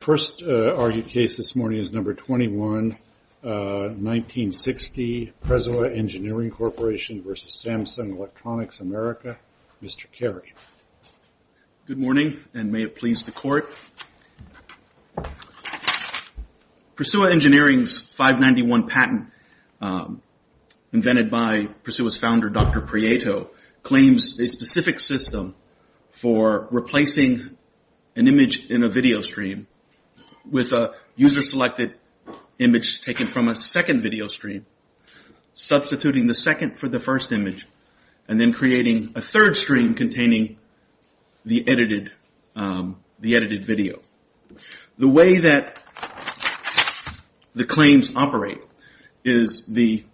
The first argued case this morning is No. 21, 1960, Prisua Engineering Corp. v. Samsung Electronics America. Mr. Carey. Good morning and may it please the Court. Prisua Engineering's 591 patent, invented by Prisua's founder, Dr. Prieto, claims a specific system for replacing an image in a video stream with a user-selected image taken from a second video stream, substituting the second for the first image, and then creating a third stream containing the edited video. The way that the claims operate is the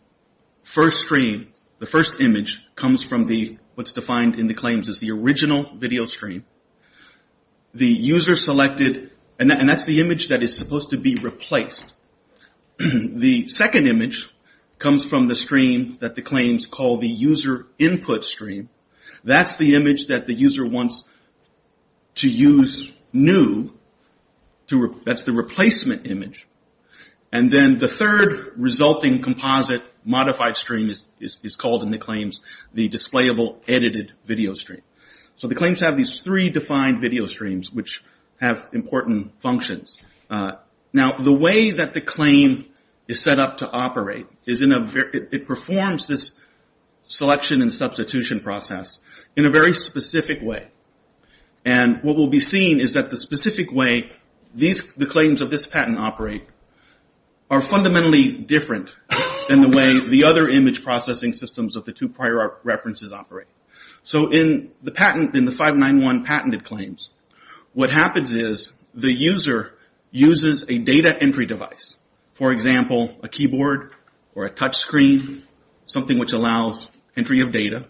first stream, the first image, comes from what's selected, and that's the image that is supposed to be replaced. The second image comes from the stream that the claims call the user input stream. That's the image that the user wants to use new. That's the replacement image. Then the third resulting composite modified stream is called in the claims the displayable edited video stream. The claims have these three defined video streams, which have important functions. Now, the way that the claim is set up to operate, it performs this selection and substitution process in a very specific way. What will be seen is that the specific way the claims of this patent operate are fundamentally different than the way the other image processing systems of the two prior references operate. In the 591 patented claims, what happens is the user uses a data entry device. For example, a keyboard or a touch screen, something which allows entry of data.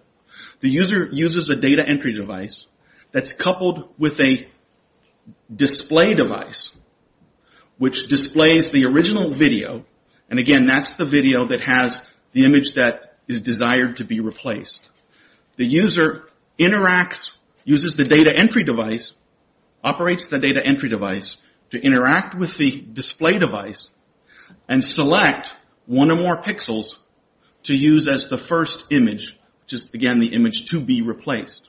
The user uses a data entry device that's coupled with a display device, which displays the original video. Again, that's the video that has the image that is desired to be replaced. The user interacts, uses the data entry device, operates the data entry device to interact with the display device and select one or more pixels to use as the first image, which is again the image to be replaced.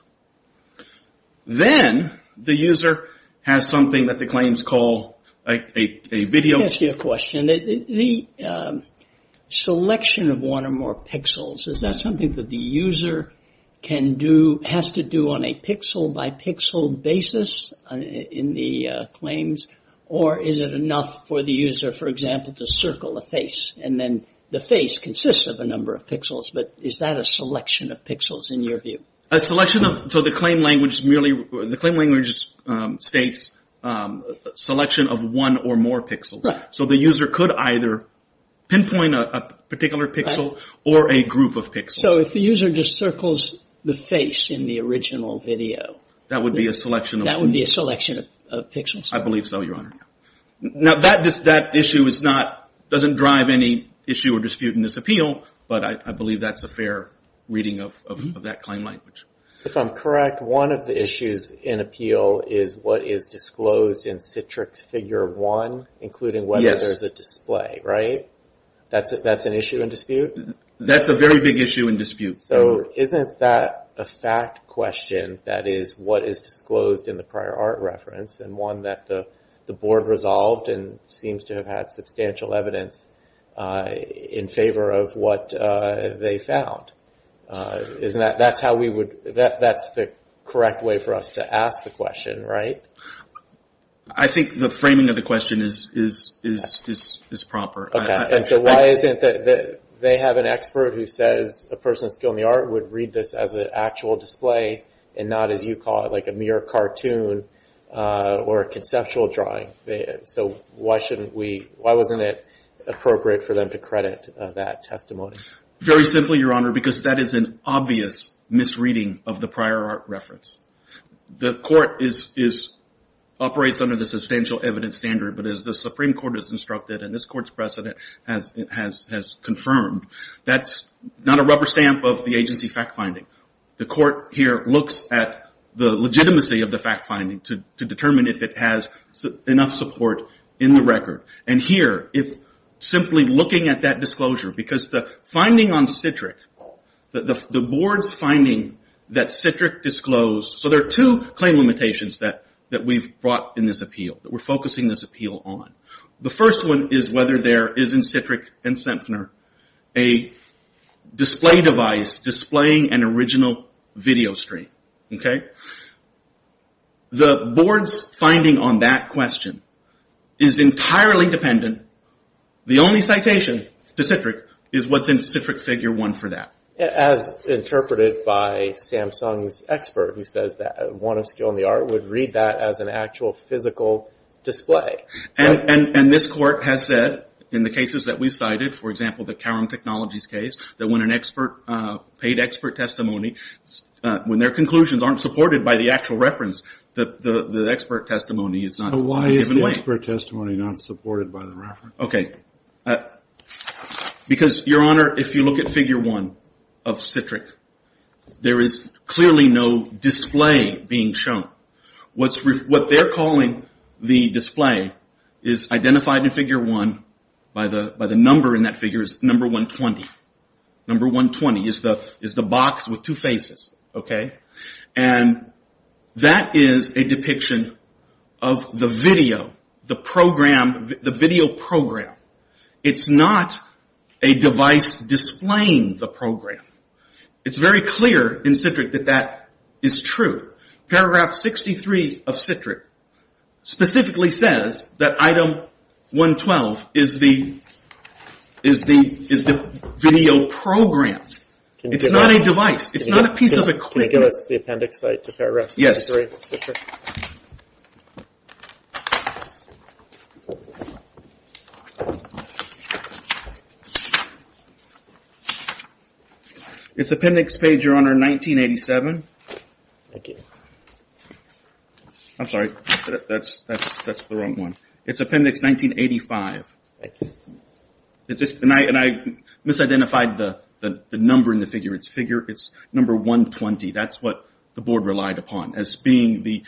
Then the user has something that the claims call a video... Is that something that the user can do, has to do on a pixel by pixel basis in the claims, or is it enough for the user, for example, to circle a face and then the face consists of a number of pixels, but is that a selection of pixels in your view? The claim language states selection of one or more pixels. The user could either pinpoint a particular pixel or a group of pixels. So if the user just circles the face in the original video, that would be a selection of pixels? I believe so, Your Honor. Now that issue doesn't drive any issue or dispute in this appeal, but I believe that's a fair reading of that claim language. If I'm correct, one of the issues in appeal is what is disclosed in Citrix Figure 1, including whether there's a display, right? That's an issue and dispute? That's a very big issue and dispute. So isn't that a fact question, that is, what is disclosed in the prior art reference and one that the board resolved and seems to have had substantial evidence in favor of what they found? That's the correct way for us to ask the question, right? I think the framing of the question is proper. Okay. And so why isn't it that they have an expert who says a person of skill in the art would read this as an actual display and not, as you call it, like a mere cartoon or a conceptual drawing? So why wasn't it appropriate for them to credit that testimony? Very simply, Your Honor, because that is an obvious misreading of the prior art reference. The court operates under the substantial evidence standard, but as the Supreme Court has instructed and this Court's precedent has confirmed, that's not a rubber stamp of the agency fact finding. The court here looks at the legitimacy of the fact finding to determine if it has enough support in the record. And here, if simply looking at that disclosure, because the finding on Citric, the board's finding that Citric disclosed... So there are two claim limitations that we've brought in this appeal, that we're focusing this appeal on. The first one is whether there is in Citric and Centner a display device displaying an original video stream. The board's finding on that question is entirely dependent. The only citation to Citric is what's in Citric Figure 1 for that. As interpreted by Samsung's expert, who says that one of skill in the art would read that as an actual physical display. And this Court has said, in the cases that we've cited, for example, the Calum Technologies case, that when an expert, paid expert testimony, when their conclusions aren't supported by the actual reference, the expert testimony is not in a given way. Expert testimony not supported by the reference. Okay. Because, Your Honor, if you look at Figure 1 of Citric, there is clearly no display being shown. What they're calling the display is identified in Figure 1 by the number in that figure is number 120. Number 120 is the box with two faces, okay? And that is a depiction of the video, the program, the video program. It's not a device displaying the program. It's very clear in Citric that that is true. Paragraph 63 of Citric specifically says that Item 112 is the video program. It's not a device. It's not a piece of equipment. Can you give us the appendix to Paragraph 63 of Citric? It's appendix page, Your Honor, 1987. Thank you. I'm sorry. That's the wrong one. It's appendix 1985. Thank you. And I misidentified the number in the figure. It's number 120. That's what the board relied upon as being the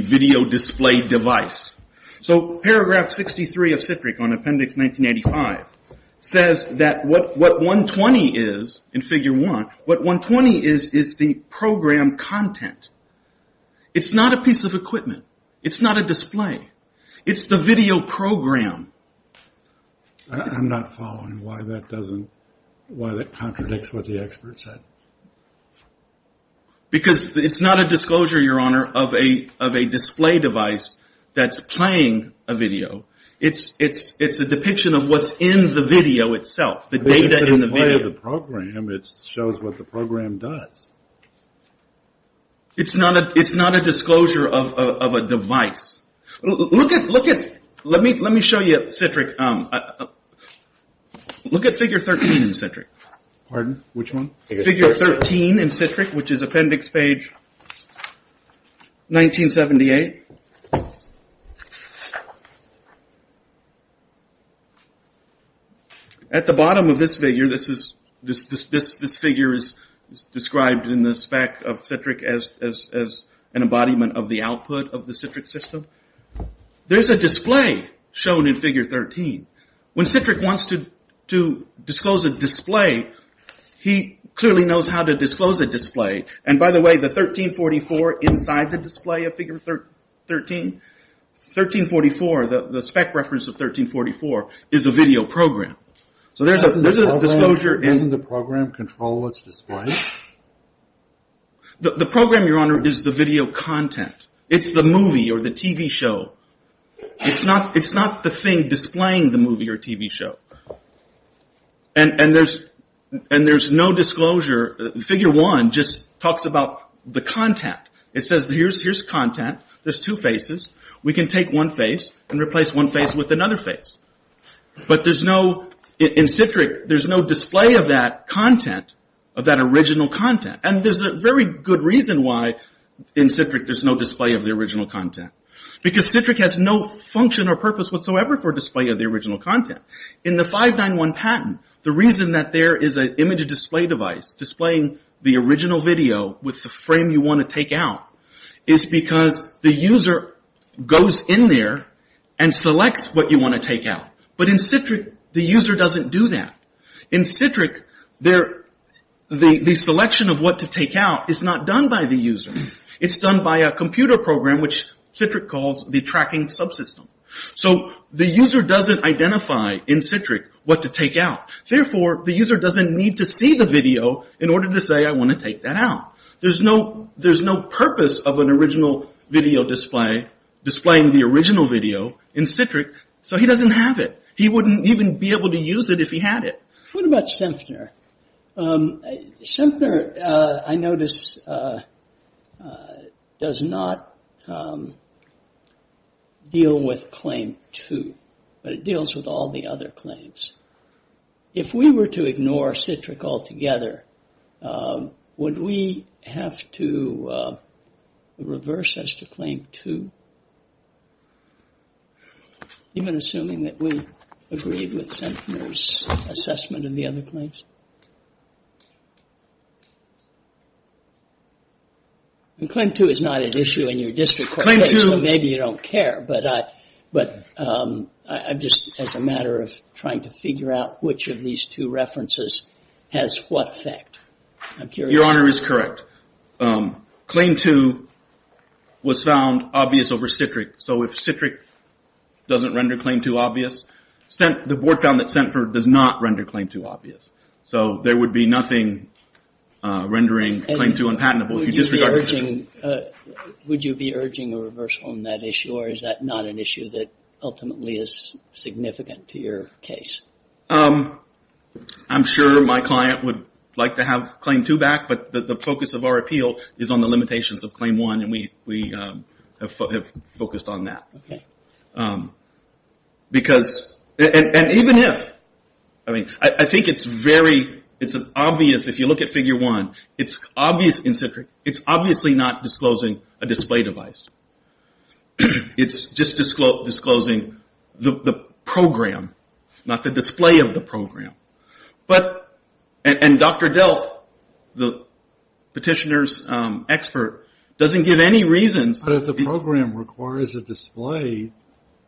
video display device. So Paragraph 63 of Citric on appendix 1985 says that what 120 is in Figure 1, what 120 is is the program content. It's not a piece of equipment. I'm not following why that contradicts what the expert said. Because it's not a disclosure, Your Honor, of a display device that's playing a video. It's a depiction of what's in the video itself, the data in the video. But it's a display of the program. It shows what the program does. It's not a disclosure of a device. Look at, let me show you Citric. Look at Figure 13 in Citric. Pardon? Which one? Figure 13 in Citric, which is appendix page 1978. At the bottom of this figure, this figure is described in the spec of Citric as an embodiment of the output of the Citric system. There's a display shown in Figure 13. When Citric wants to disclose a display, he clearly knows how to disclose a display. And by the way, the 1344 inside the display of Figure 13, 1344, the spec reference of 1344, is a video program. So there's a disclosure. Isn't the program control what's displayed? The program, Your Honor, is the video content. It's the movie or the TV show. It's not the thing displaying the movie or TV show. And there's no disclosure. Figure 1 just talks about the content. It says, here's content. There's two faces. We can take one face and replace one face with another face. But there's no, in Citric, there's no display of that content, of that original content. And there's a very good reason why in Citric there's no display of the original content. Because Citric has no function or purpose whatsoever for display of the original content. In the 591 patent, the reason that there is an image display device displaying the original video with the frame you want to take out is because the user goes in there and selects what you want to take out. But in Citric, the user doesn't do that. In Citric, the selection of what to take out is not done by the user. It's done by a computer program, which Citric calls the tracking subsystem. So the user doesn't identify, in Citric, what to take out. Therefore, the user doesn't need to see the video in order to say, I want to take that out. There's no purpose of an original video display displaying the original video in Citric. So he doesn't have it. He wouldn't even be able to use it if he had it. What about Sempner? Sempner, I notice, does not deal with Claim 2. But it deals with all the other claims. If we were to ignore Citric altogether, would we have to reverse as to Claim 2? Even assuming that we agreed with Sempner's assessment of the other claims? And Claim 2 is not an issue in your district court case, so maybe you don't care. But just as a matter of trying to figure out which of these two references has what effect. Your Honor is correct. Claim 2 was found obvious over Citric. So if Citric doesn't render Claim 2 obvious, the board found that Sempner does not render Claim 2 obvious. So there would be nothing rendering Claim 2 unpatentable. Would you be urging a reversal on that issue? Or is that not an issue that ultimately is significant to your case? I'm sure my client would like to have Claim 2 back. But the focus of our appeal is on the limitations of Claim 1. And we have focused on that. And even if. I think it's very obvious if you look at Figure 1. It's obvious in Citric. It's obviously not disclosing a display device. It's just disclosing the program, not the display of the program. And Dr. Delk, the petitioner's expert, doesn't give any reason. But if the program requires a display,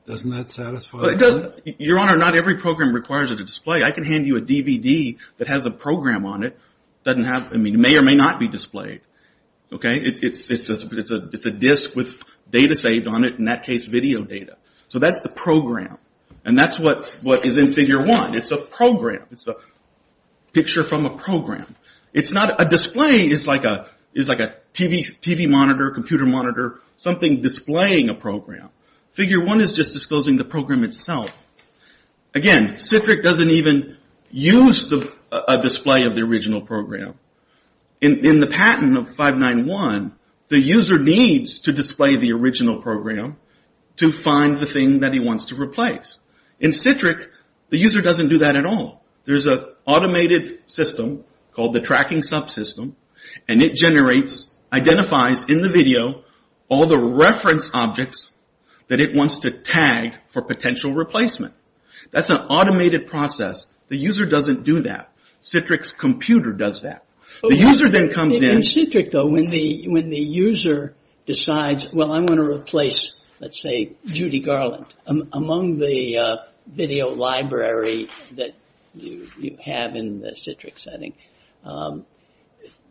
doesn't that satisfy the claim? Your Honor, not every program requires a display. I can hand you a DVD that has a program on it. It may or may not be displayed. It's a disc with data saved on it. In that case, video data. So that's the program. And that's what is in Figure 1. It's a program. It's a picture from a program. It's not a display. It's like a TV monitor, computer monitor, something displaying a program. Figure 1 is just disclosing the program itself. Again, Citric doesn't even use a display of the original program. In the patent of 591, the user needs to display the original program to find the thing that he wants to replace. In Citric, the user doesn't do that at all. There's an automated system called the tracking subsystem, and it generates, identifies in the video, all the reference objects that it wants to tag for potential replacement. That's an automated process. The user doesn't do that. Citric's computer does that. The user then comes in. In Citric, though, when the user decides, well, I want to replace, let's say, Judy Garland, among the video library that you have in the Citric setting,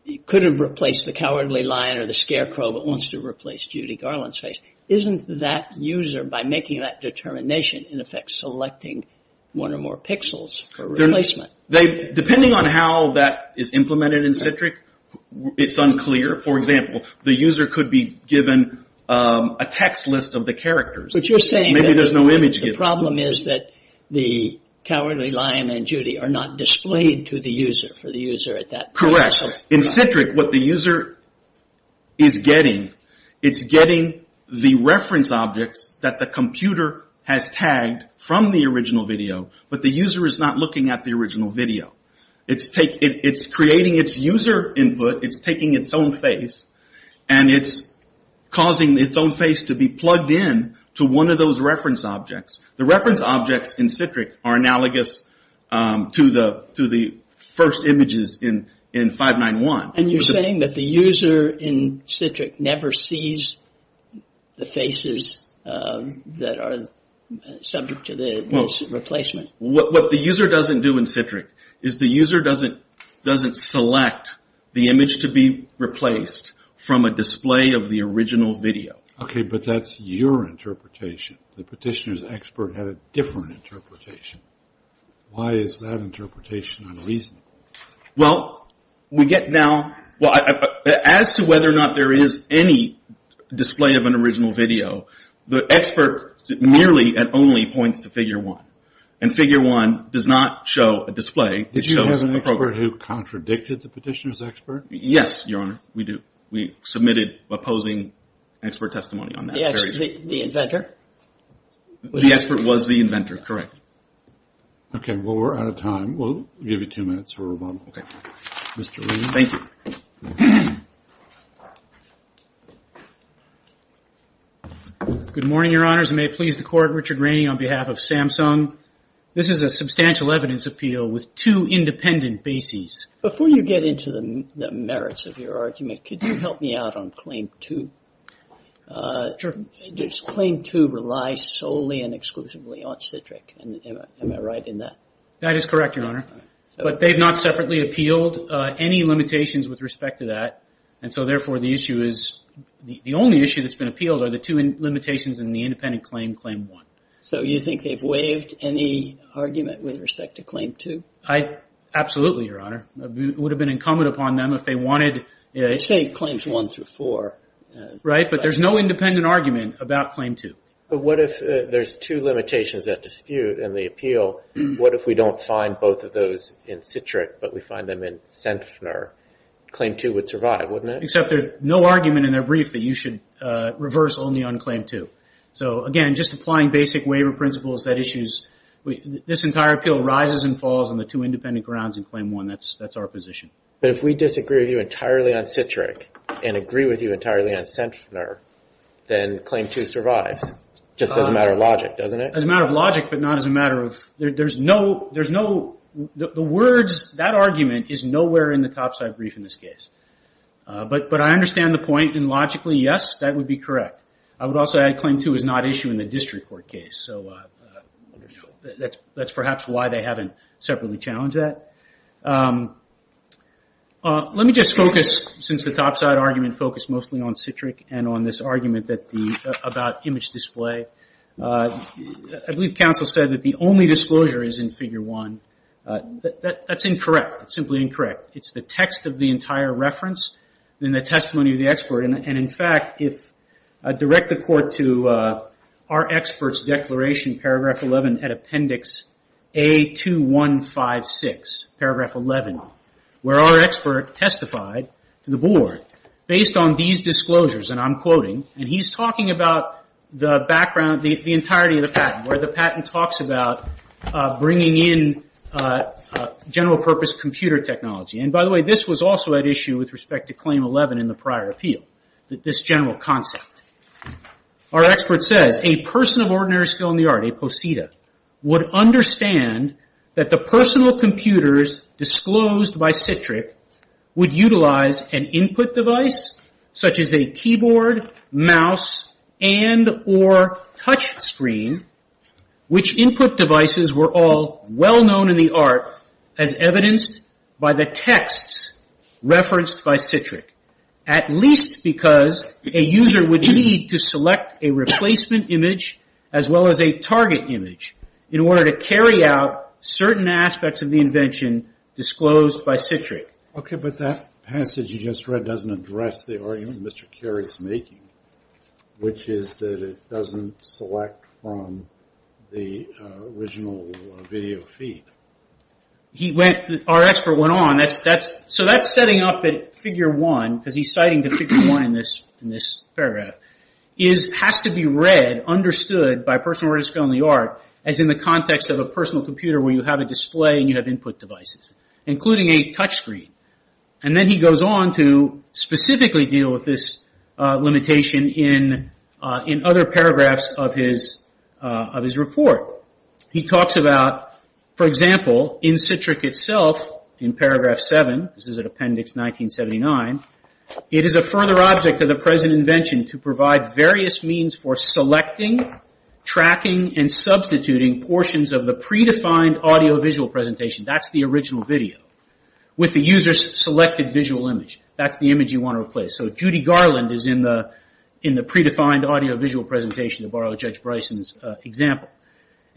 you could have replaced the cowardly lion or the scarecrow, but wants to replace Judy Garland's face. Isn't that user, by making that determination, in effect selecting one or more pixels for replacement? Depending on how that is implemented in Citric, it's unclear. For example, the user could be given a text list of the characters. But you're saying that the problem is that the cowardly lion and Judy are not displayed to the user, for the user at that point. Correct. In Citric, what the user is getting, it's getting the reference objects that the computer has tagged from the original video, but the user is not looking at the original video. It's creating its user input, it's taking its own face, and it's causing its own face to be plugged in to one of those reference objects. The reference objects in Citric are analogous to the first images in 591. And you're saying that the user in Citric never sees the faces that are subject to the replacement? What the user doesn't do in Citric is the user doesn't select the image to be replaced from a display of the original video. Okay, but that's your interpretation. The petitioner's expert had a different interpretation. Why is that interpretation unreasonable? Well, we get now... As to whether or not there is any display of an original video, the expert merely and only points to Figure 1, and Figure 1 does not show a display. Did you have an expert who contradicted the petitioner's expert? Yes, Your Honor, we do. We submitted opposing expert testimony on that. The inventor? The expert was the inventor, correct. Okay, well, we're out of time. We'll give you two minutes for rebuttal. Thank you. Good morning, Your Honors. I may please the Court. Richard Rainey on behalf of Samsung. This is a substantial evidence appeal with two independent bases. Before you get into the merits of your argument, could you help me out on Claim 2? Sure. Does Claim 2 rely solely and exclusively on Citric? Am I right in that? That is correct, Your Honor. But they've not separately appealed any limitations with respect to that, and so therefore the issue is the only issue that's been appealed are the two limitations in the independent claim, Claim 1. So you think they've waived any argument with respect to Claim 2? Absolutely, Your Honor. It would have been incumbent upon them if they wanted... You're saying Claims 1 through 4. Right, but there's no independent argument about Claim 2. But what if there's two limitations at dispute in the appeal? So what if we don't find both of those in Citric but we find them in Zenfner? Claim 2 would survive, wouldn't it? Except there's no argument in their brief that you should reverse only on Claim 2. So, again, just applying basic waiver principles, that issue is... This entire appeal rises and falls on the two independent grounds in Claim 1. That's our position. But if we disagree with you entirely on Citric and agree with you entirely on Zenfner, then Claim 2 survives. It just doesn't matter logic, doesn't it? As a matter of logic, but not as a matter of... There's no... The words... That argument is nowhere in the topside brief in this case. But I understand the point, and logically, yes, that would be correct. I would also add Claim 2 is not issued in the district court case. So that's perhaps why they haven't separately challenged that. Let me just focus, since the topside argument focused mostly on Citric and on this argument about image display, I believe counsel said that the only disclosure is in Figure 1. That's incorrect. It's simply incorrect. It's the text of the entire reference and the testimony of the expert. And, in fact, if I direct the court to our expert's declaration, Paragraph 11, at Appendix A2156, Paragraph 11, where our expert testified to the board, based on these disclosures, and I'm quoting, and he's talking about the background, the entirety of the patent, where the patent talks about bringing in general-purpose computer technology. And, by the way, this was also at issue with respect to Claim 11 in the prior appeal, this general concept. Our expert says, A person of ordinary skill in the art, a posita, would understand that the personal computers disclosed by Citric would utilize an input device, such as a keyboard, mouse, and or touch screen, which input devices were all well-known in the art as evidenced by the texts referenced by Citric, at least because a user would need to select a replacement image as well as a target image in order to carry out certain aspects of the invention disclosed by Citric. Okay, but that passage you just read doesn't address the argument Mr. Carey is making, which is that it doesn't select from the original video feed. He went, our expert went on, so that's setting up at Figure 1, because he's citing to Figure 1 in this paragraph, has to be read, understood by a person of ordinary skill in the art, as in the context of a personal computer where you have a display and you have input devices, including a touch screen. And then he goes on to specifically deal with this limitation in other paragraphs of his report. He talks about, for example, in Citric itself, in paragraph 7, this is at appendix 1979, it is a further object of the present invention to provide various means for selecting, tracking, and substituting portions of the predefined audio-visual presentation, that's the original video, with the user's selected visual image. That's the image you want to replace. So Judy Garland is in the predefined audio-visual presentation, to borrow Judge Bryson's example.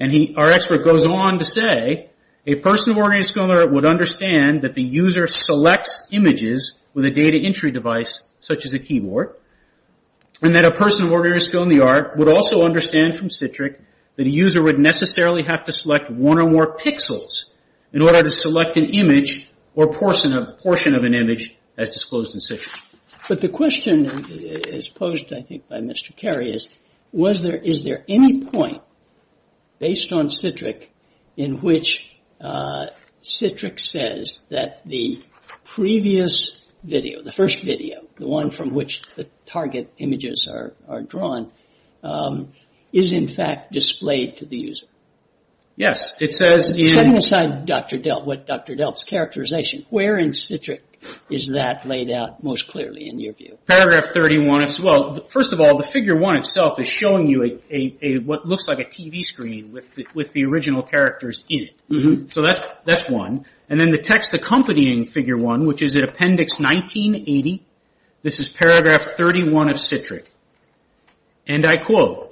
Our expert goes on to say, a person of ordinary skill in the art would understand that the user selects images with a data entry device such as a keyboard, and that a person of ordinary skill in the art would also understand from Citric that a user would necessarily have to select one or more pixels in order to select an image or portion of an image as disclosed in Citric. But the question posed, I think, by Mr. Carey is, is there any point, based on Citric, in which Citric says that the previous video, the first video, the one from which the target images are drawn, is in fact displayed to the user? Yes, it says in... Setting aside what Dr. Delp's characterization, where in Citric is that laid out most clearly in your view? Paragraph 31, well, first of all, the figure 1 itself is showing you what looks like a TV screen with the original characters in it. So that's one. And then the text accompanying figure 1, which is in appendix 1980, this is paragraph 31 of Citric, and I quote,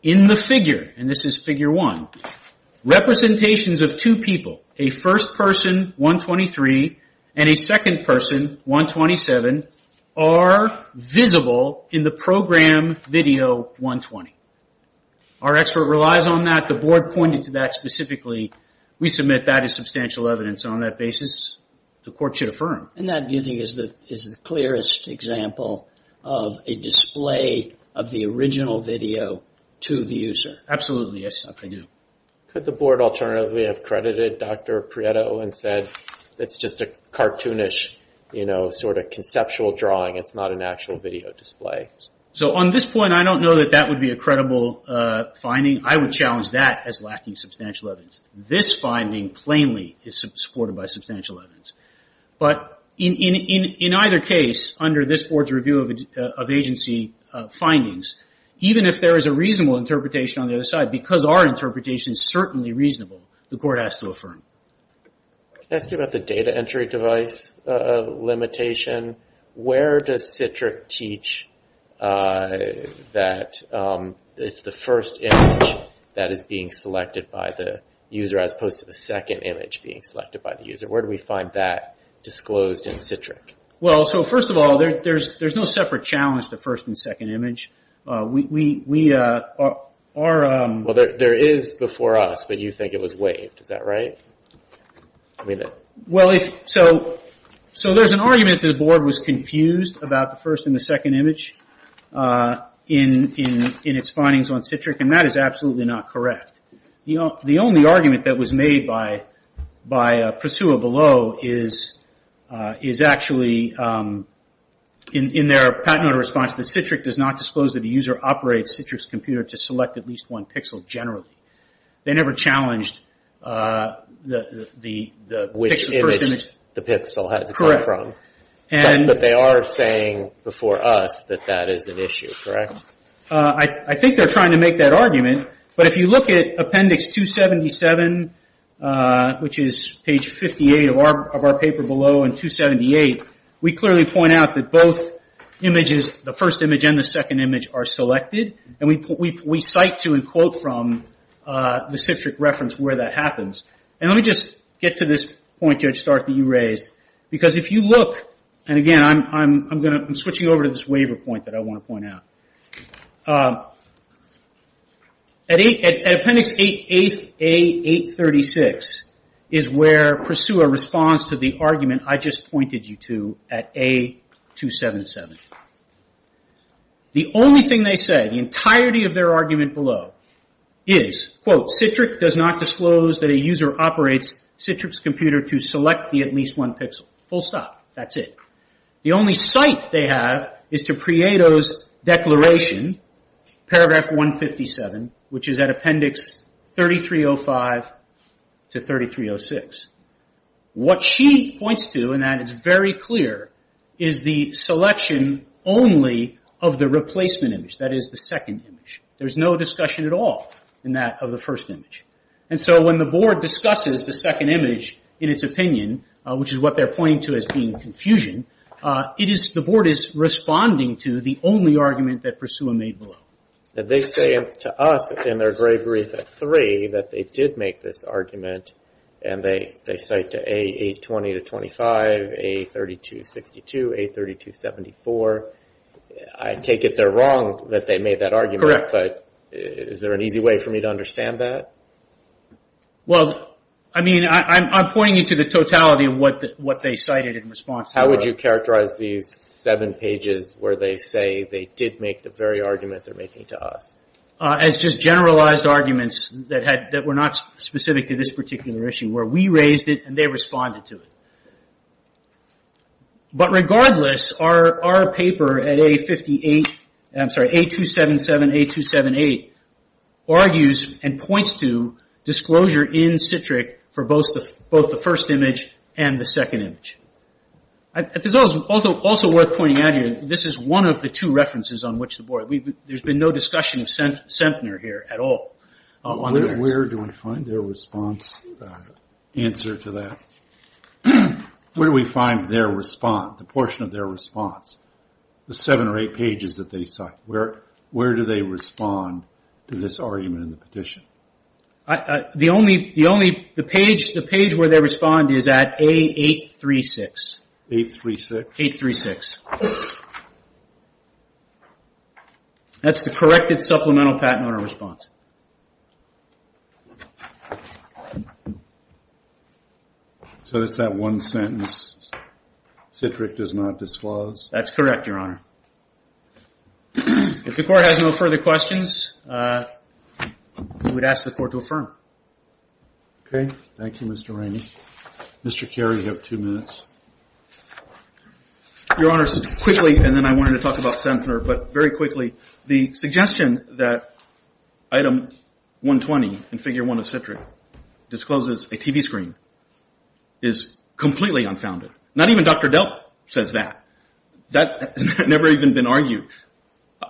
in the figure, and this is figure 1, representations of two people, a first person, 123, and a second person, 127, are visible in the program video 120. Our expert relies on that. The board pointed to that specifically. We submit that as substantial evidence on that basis. The court should affirm. And that, do you think, is the clearest example of a display of the original video to the user? Absolutely, yes, I do. Could the board alternatively have credited Dr. Prieto and said, it's just a cartoonish, you know, sort of conceptual drawing. It's not an actual video display. So on this point, I don't know that that would be a credible finding. I would challenge that as lacking substantial evidence. This finding plainly is supported by substantial evidence. But in either case, under this board's review of agency findings, even if there is a reasonable interpretation on the other side, because our interpretation is certainly reasonable, the court has to affirm. Can I ask you about the data entry device limitation? Where does Citric teach that it's the first image that is being selected by the user as opposed to the second image being selected by the user? Where do we find that disclosed in Citric? Well, so first of all, there's no separate challenge to first and second image. Well, there is the for us, but you think it was waived. Is that right? Well, so there's an argument that the board was confused about the first and the second image in its findings on Citric, and that is absolutely not correct. The only argument that was made by Pursua Below is actually in their patented response that Citric does not disclose that the user operates Citric's computer to select at least one pixel generally. They never challenged the first image. Which image the pixel had to come from. Correct. But they are saying before us that that is an issue, correct? I think they're trying to make that argument. But if you look at Appendix 277, which is page 58 of our paper below, and 278, we clearly point out that both images, the first image and the second image, are selected. And we cite to and quote from the Citric reference where that happens. And let me just get to this point, Judge Stark, that you raised. Because if you look, and again, I'm switching over to this waiver point that I want to point out. At Appendix A836 is where Pursua responds to the argument I just pointed you to at A277. The only thing they say, the entirety of their argument below is, quote, Citric does not disclose that a user operates Citric's computer to select the at least one pixel. Full stop. That's it. The only cite they have is to Prieto's declaration, paragraph 157, which is at Appendix 3305 to 3306. What she points to, and that is very clear, is the selection only of the replacement image. That is, the second image. There's no discussion at all in that of the first image. And so when the board discusses the second image in its opinion, which is what they're pointing to as being confusion, the board is responding to the only argument that Pursua made below. They say to us in their grave wreath at 3 that they did make this argument. And they cite to A820 to 25, A3262, A3274. I take it they're wrong that they made that argument. Correct. Is there an easy way for me to understand that? I'm pointing you to the totality of what they cited in response. How would you characterize these seven pages where they say they did make the very argument they're making to us? As just generalized arguments that were not specific to this particular issue, where we raised it and they responded to it. But regardless, our paper at A578, I'm sorry, A277, A278, argues and points to disclosure in Citric for both the first image and the second image. It's also worth pointing out here, this is one of the two references on which the board, there's been no discussion of Centner here at all. Where do we find their response, answer to that? Where do we find their response, the portion of their response? The seven or eight pages that they cite. Where do they respond to this argument in the petition? The only, the page where they respond is at A836. A836? A836. That's the corrected supplemental patent owner response. So it's that one sentence, Citric does not disclose? That's correct, Your Honor. If the court has no further questions, we would ask the court to affirm. Okay. Thank you, Mr. Rainey. Mr. Carey, you have two minutes. Your Honor, quickly, and then I wanted to talk about Centner, but very quickly, the suggestion that item 120 in figure one of Citric discloses a TV screen is completely unfounded. Not even Dr. Delp says that. That has never even been argued.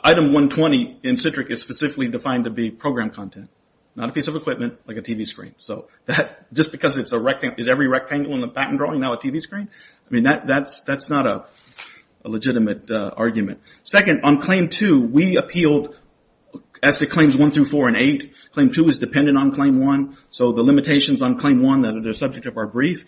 Item 120 in Citric is specifically defined to be program content, not a piece of equipment like a TV screen. Just because it's a rectangle, is every rectangle in the patent drawing now a TV screen? That's not a legitimate argument. Second, on claim two, we appealed as to claims one through four and eight. Claim two is dependent on claim one. So the limitations on claim one that are the subject of our brief,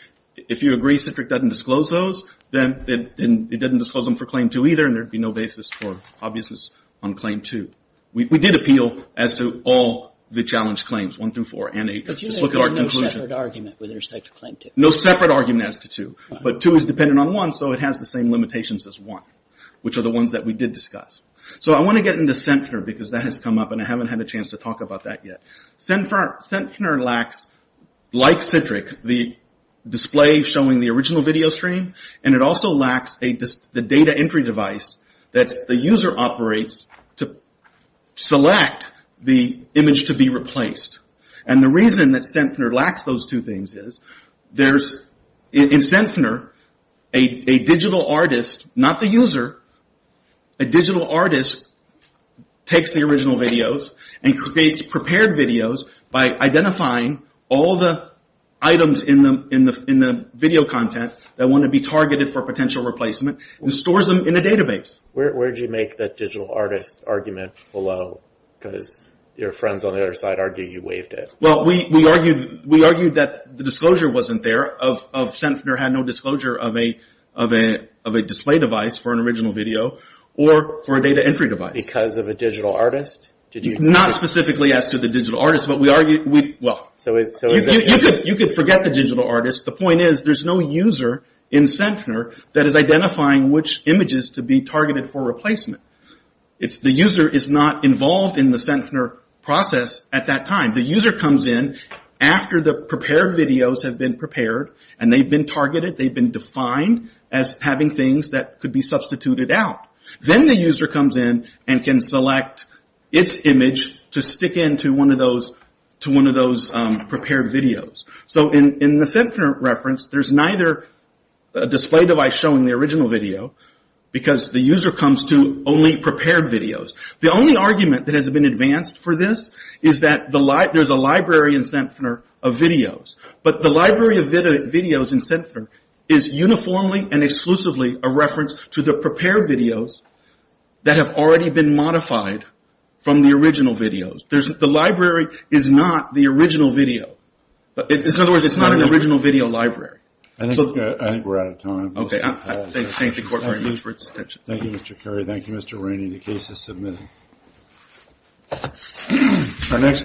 if you agree Citric doesn't disclose those, then it doesn't disclose them for claim two either, and there would be no basis for obviousness on claim two. We did appeal as to all the challenge claims, one through four and eight. Just look at our conclusion. But you didn't have no separate argument with respect to claim two. No separate argument as to two. But two is dependent on one, so it has the same limitations as one, which are the ones that we did discuss. So I want to get into Centner, because that has come up, and I haven't had a chance to talk about that yet. Centner lacks, like Citric, the display showing the original video stream, and it also lacks the data entry device that the user operates to select the image to be replaced. And the reason that Centner lacks those two things is, in Centner, a digital artist, not the user, a digital artist takes the original videos and creates prepared videos by identifying all the items in the video content that want to be targeted for potential replacement and stores them in a database. Where did you make that digital artist argument below? Because your friends on the other side argue you waived it. Well, we argued that the disclosure wasn't there, that Centner had no disclosure of a display device for an original video or for a data entry device. Because of a digital artist? Not specifically as to the digital artist, but we argued, well, you could forget the digital artist. The point is, there's no user in Centner that is identifying which images to be targeted for replacement. The user is not involved in the Centner process at that time. The user comes in after the prepared videos have been prepared, and they've been targeted, they've been defined as having things that could be substituted out. Then the user comes in and can select its image to stick into one of those prepared videos. In the Centner reference, there's neither a display device showing the original video, because the user comes to only prepared videos. The only argument that has been advanced for this is that there's a library in Centner of videos. But the library of videos in Centner is uniformly and exclusively a reference to the prepared videos that have already been modified from the original videos. The library is not the original video. In other words, it's not an original video library. I think we're out of time. Okay, I thank the Court very much for its attention. Thank you, Mr. Curry. Thank you, Mr. Rainey. The case is submitted.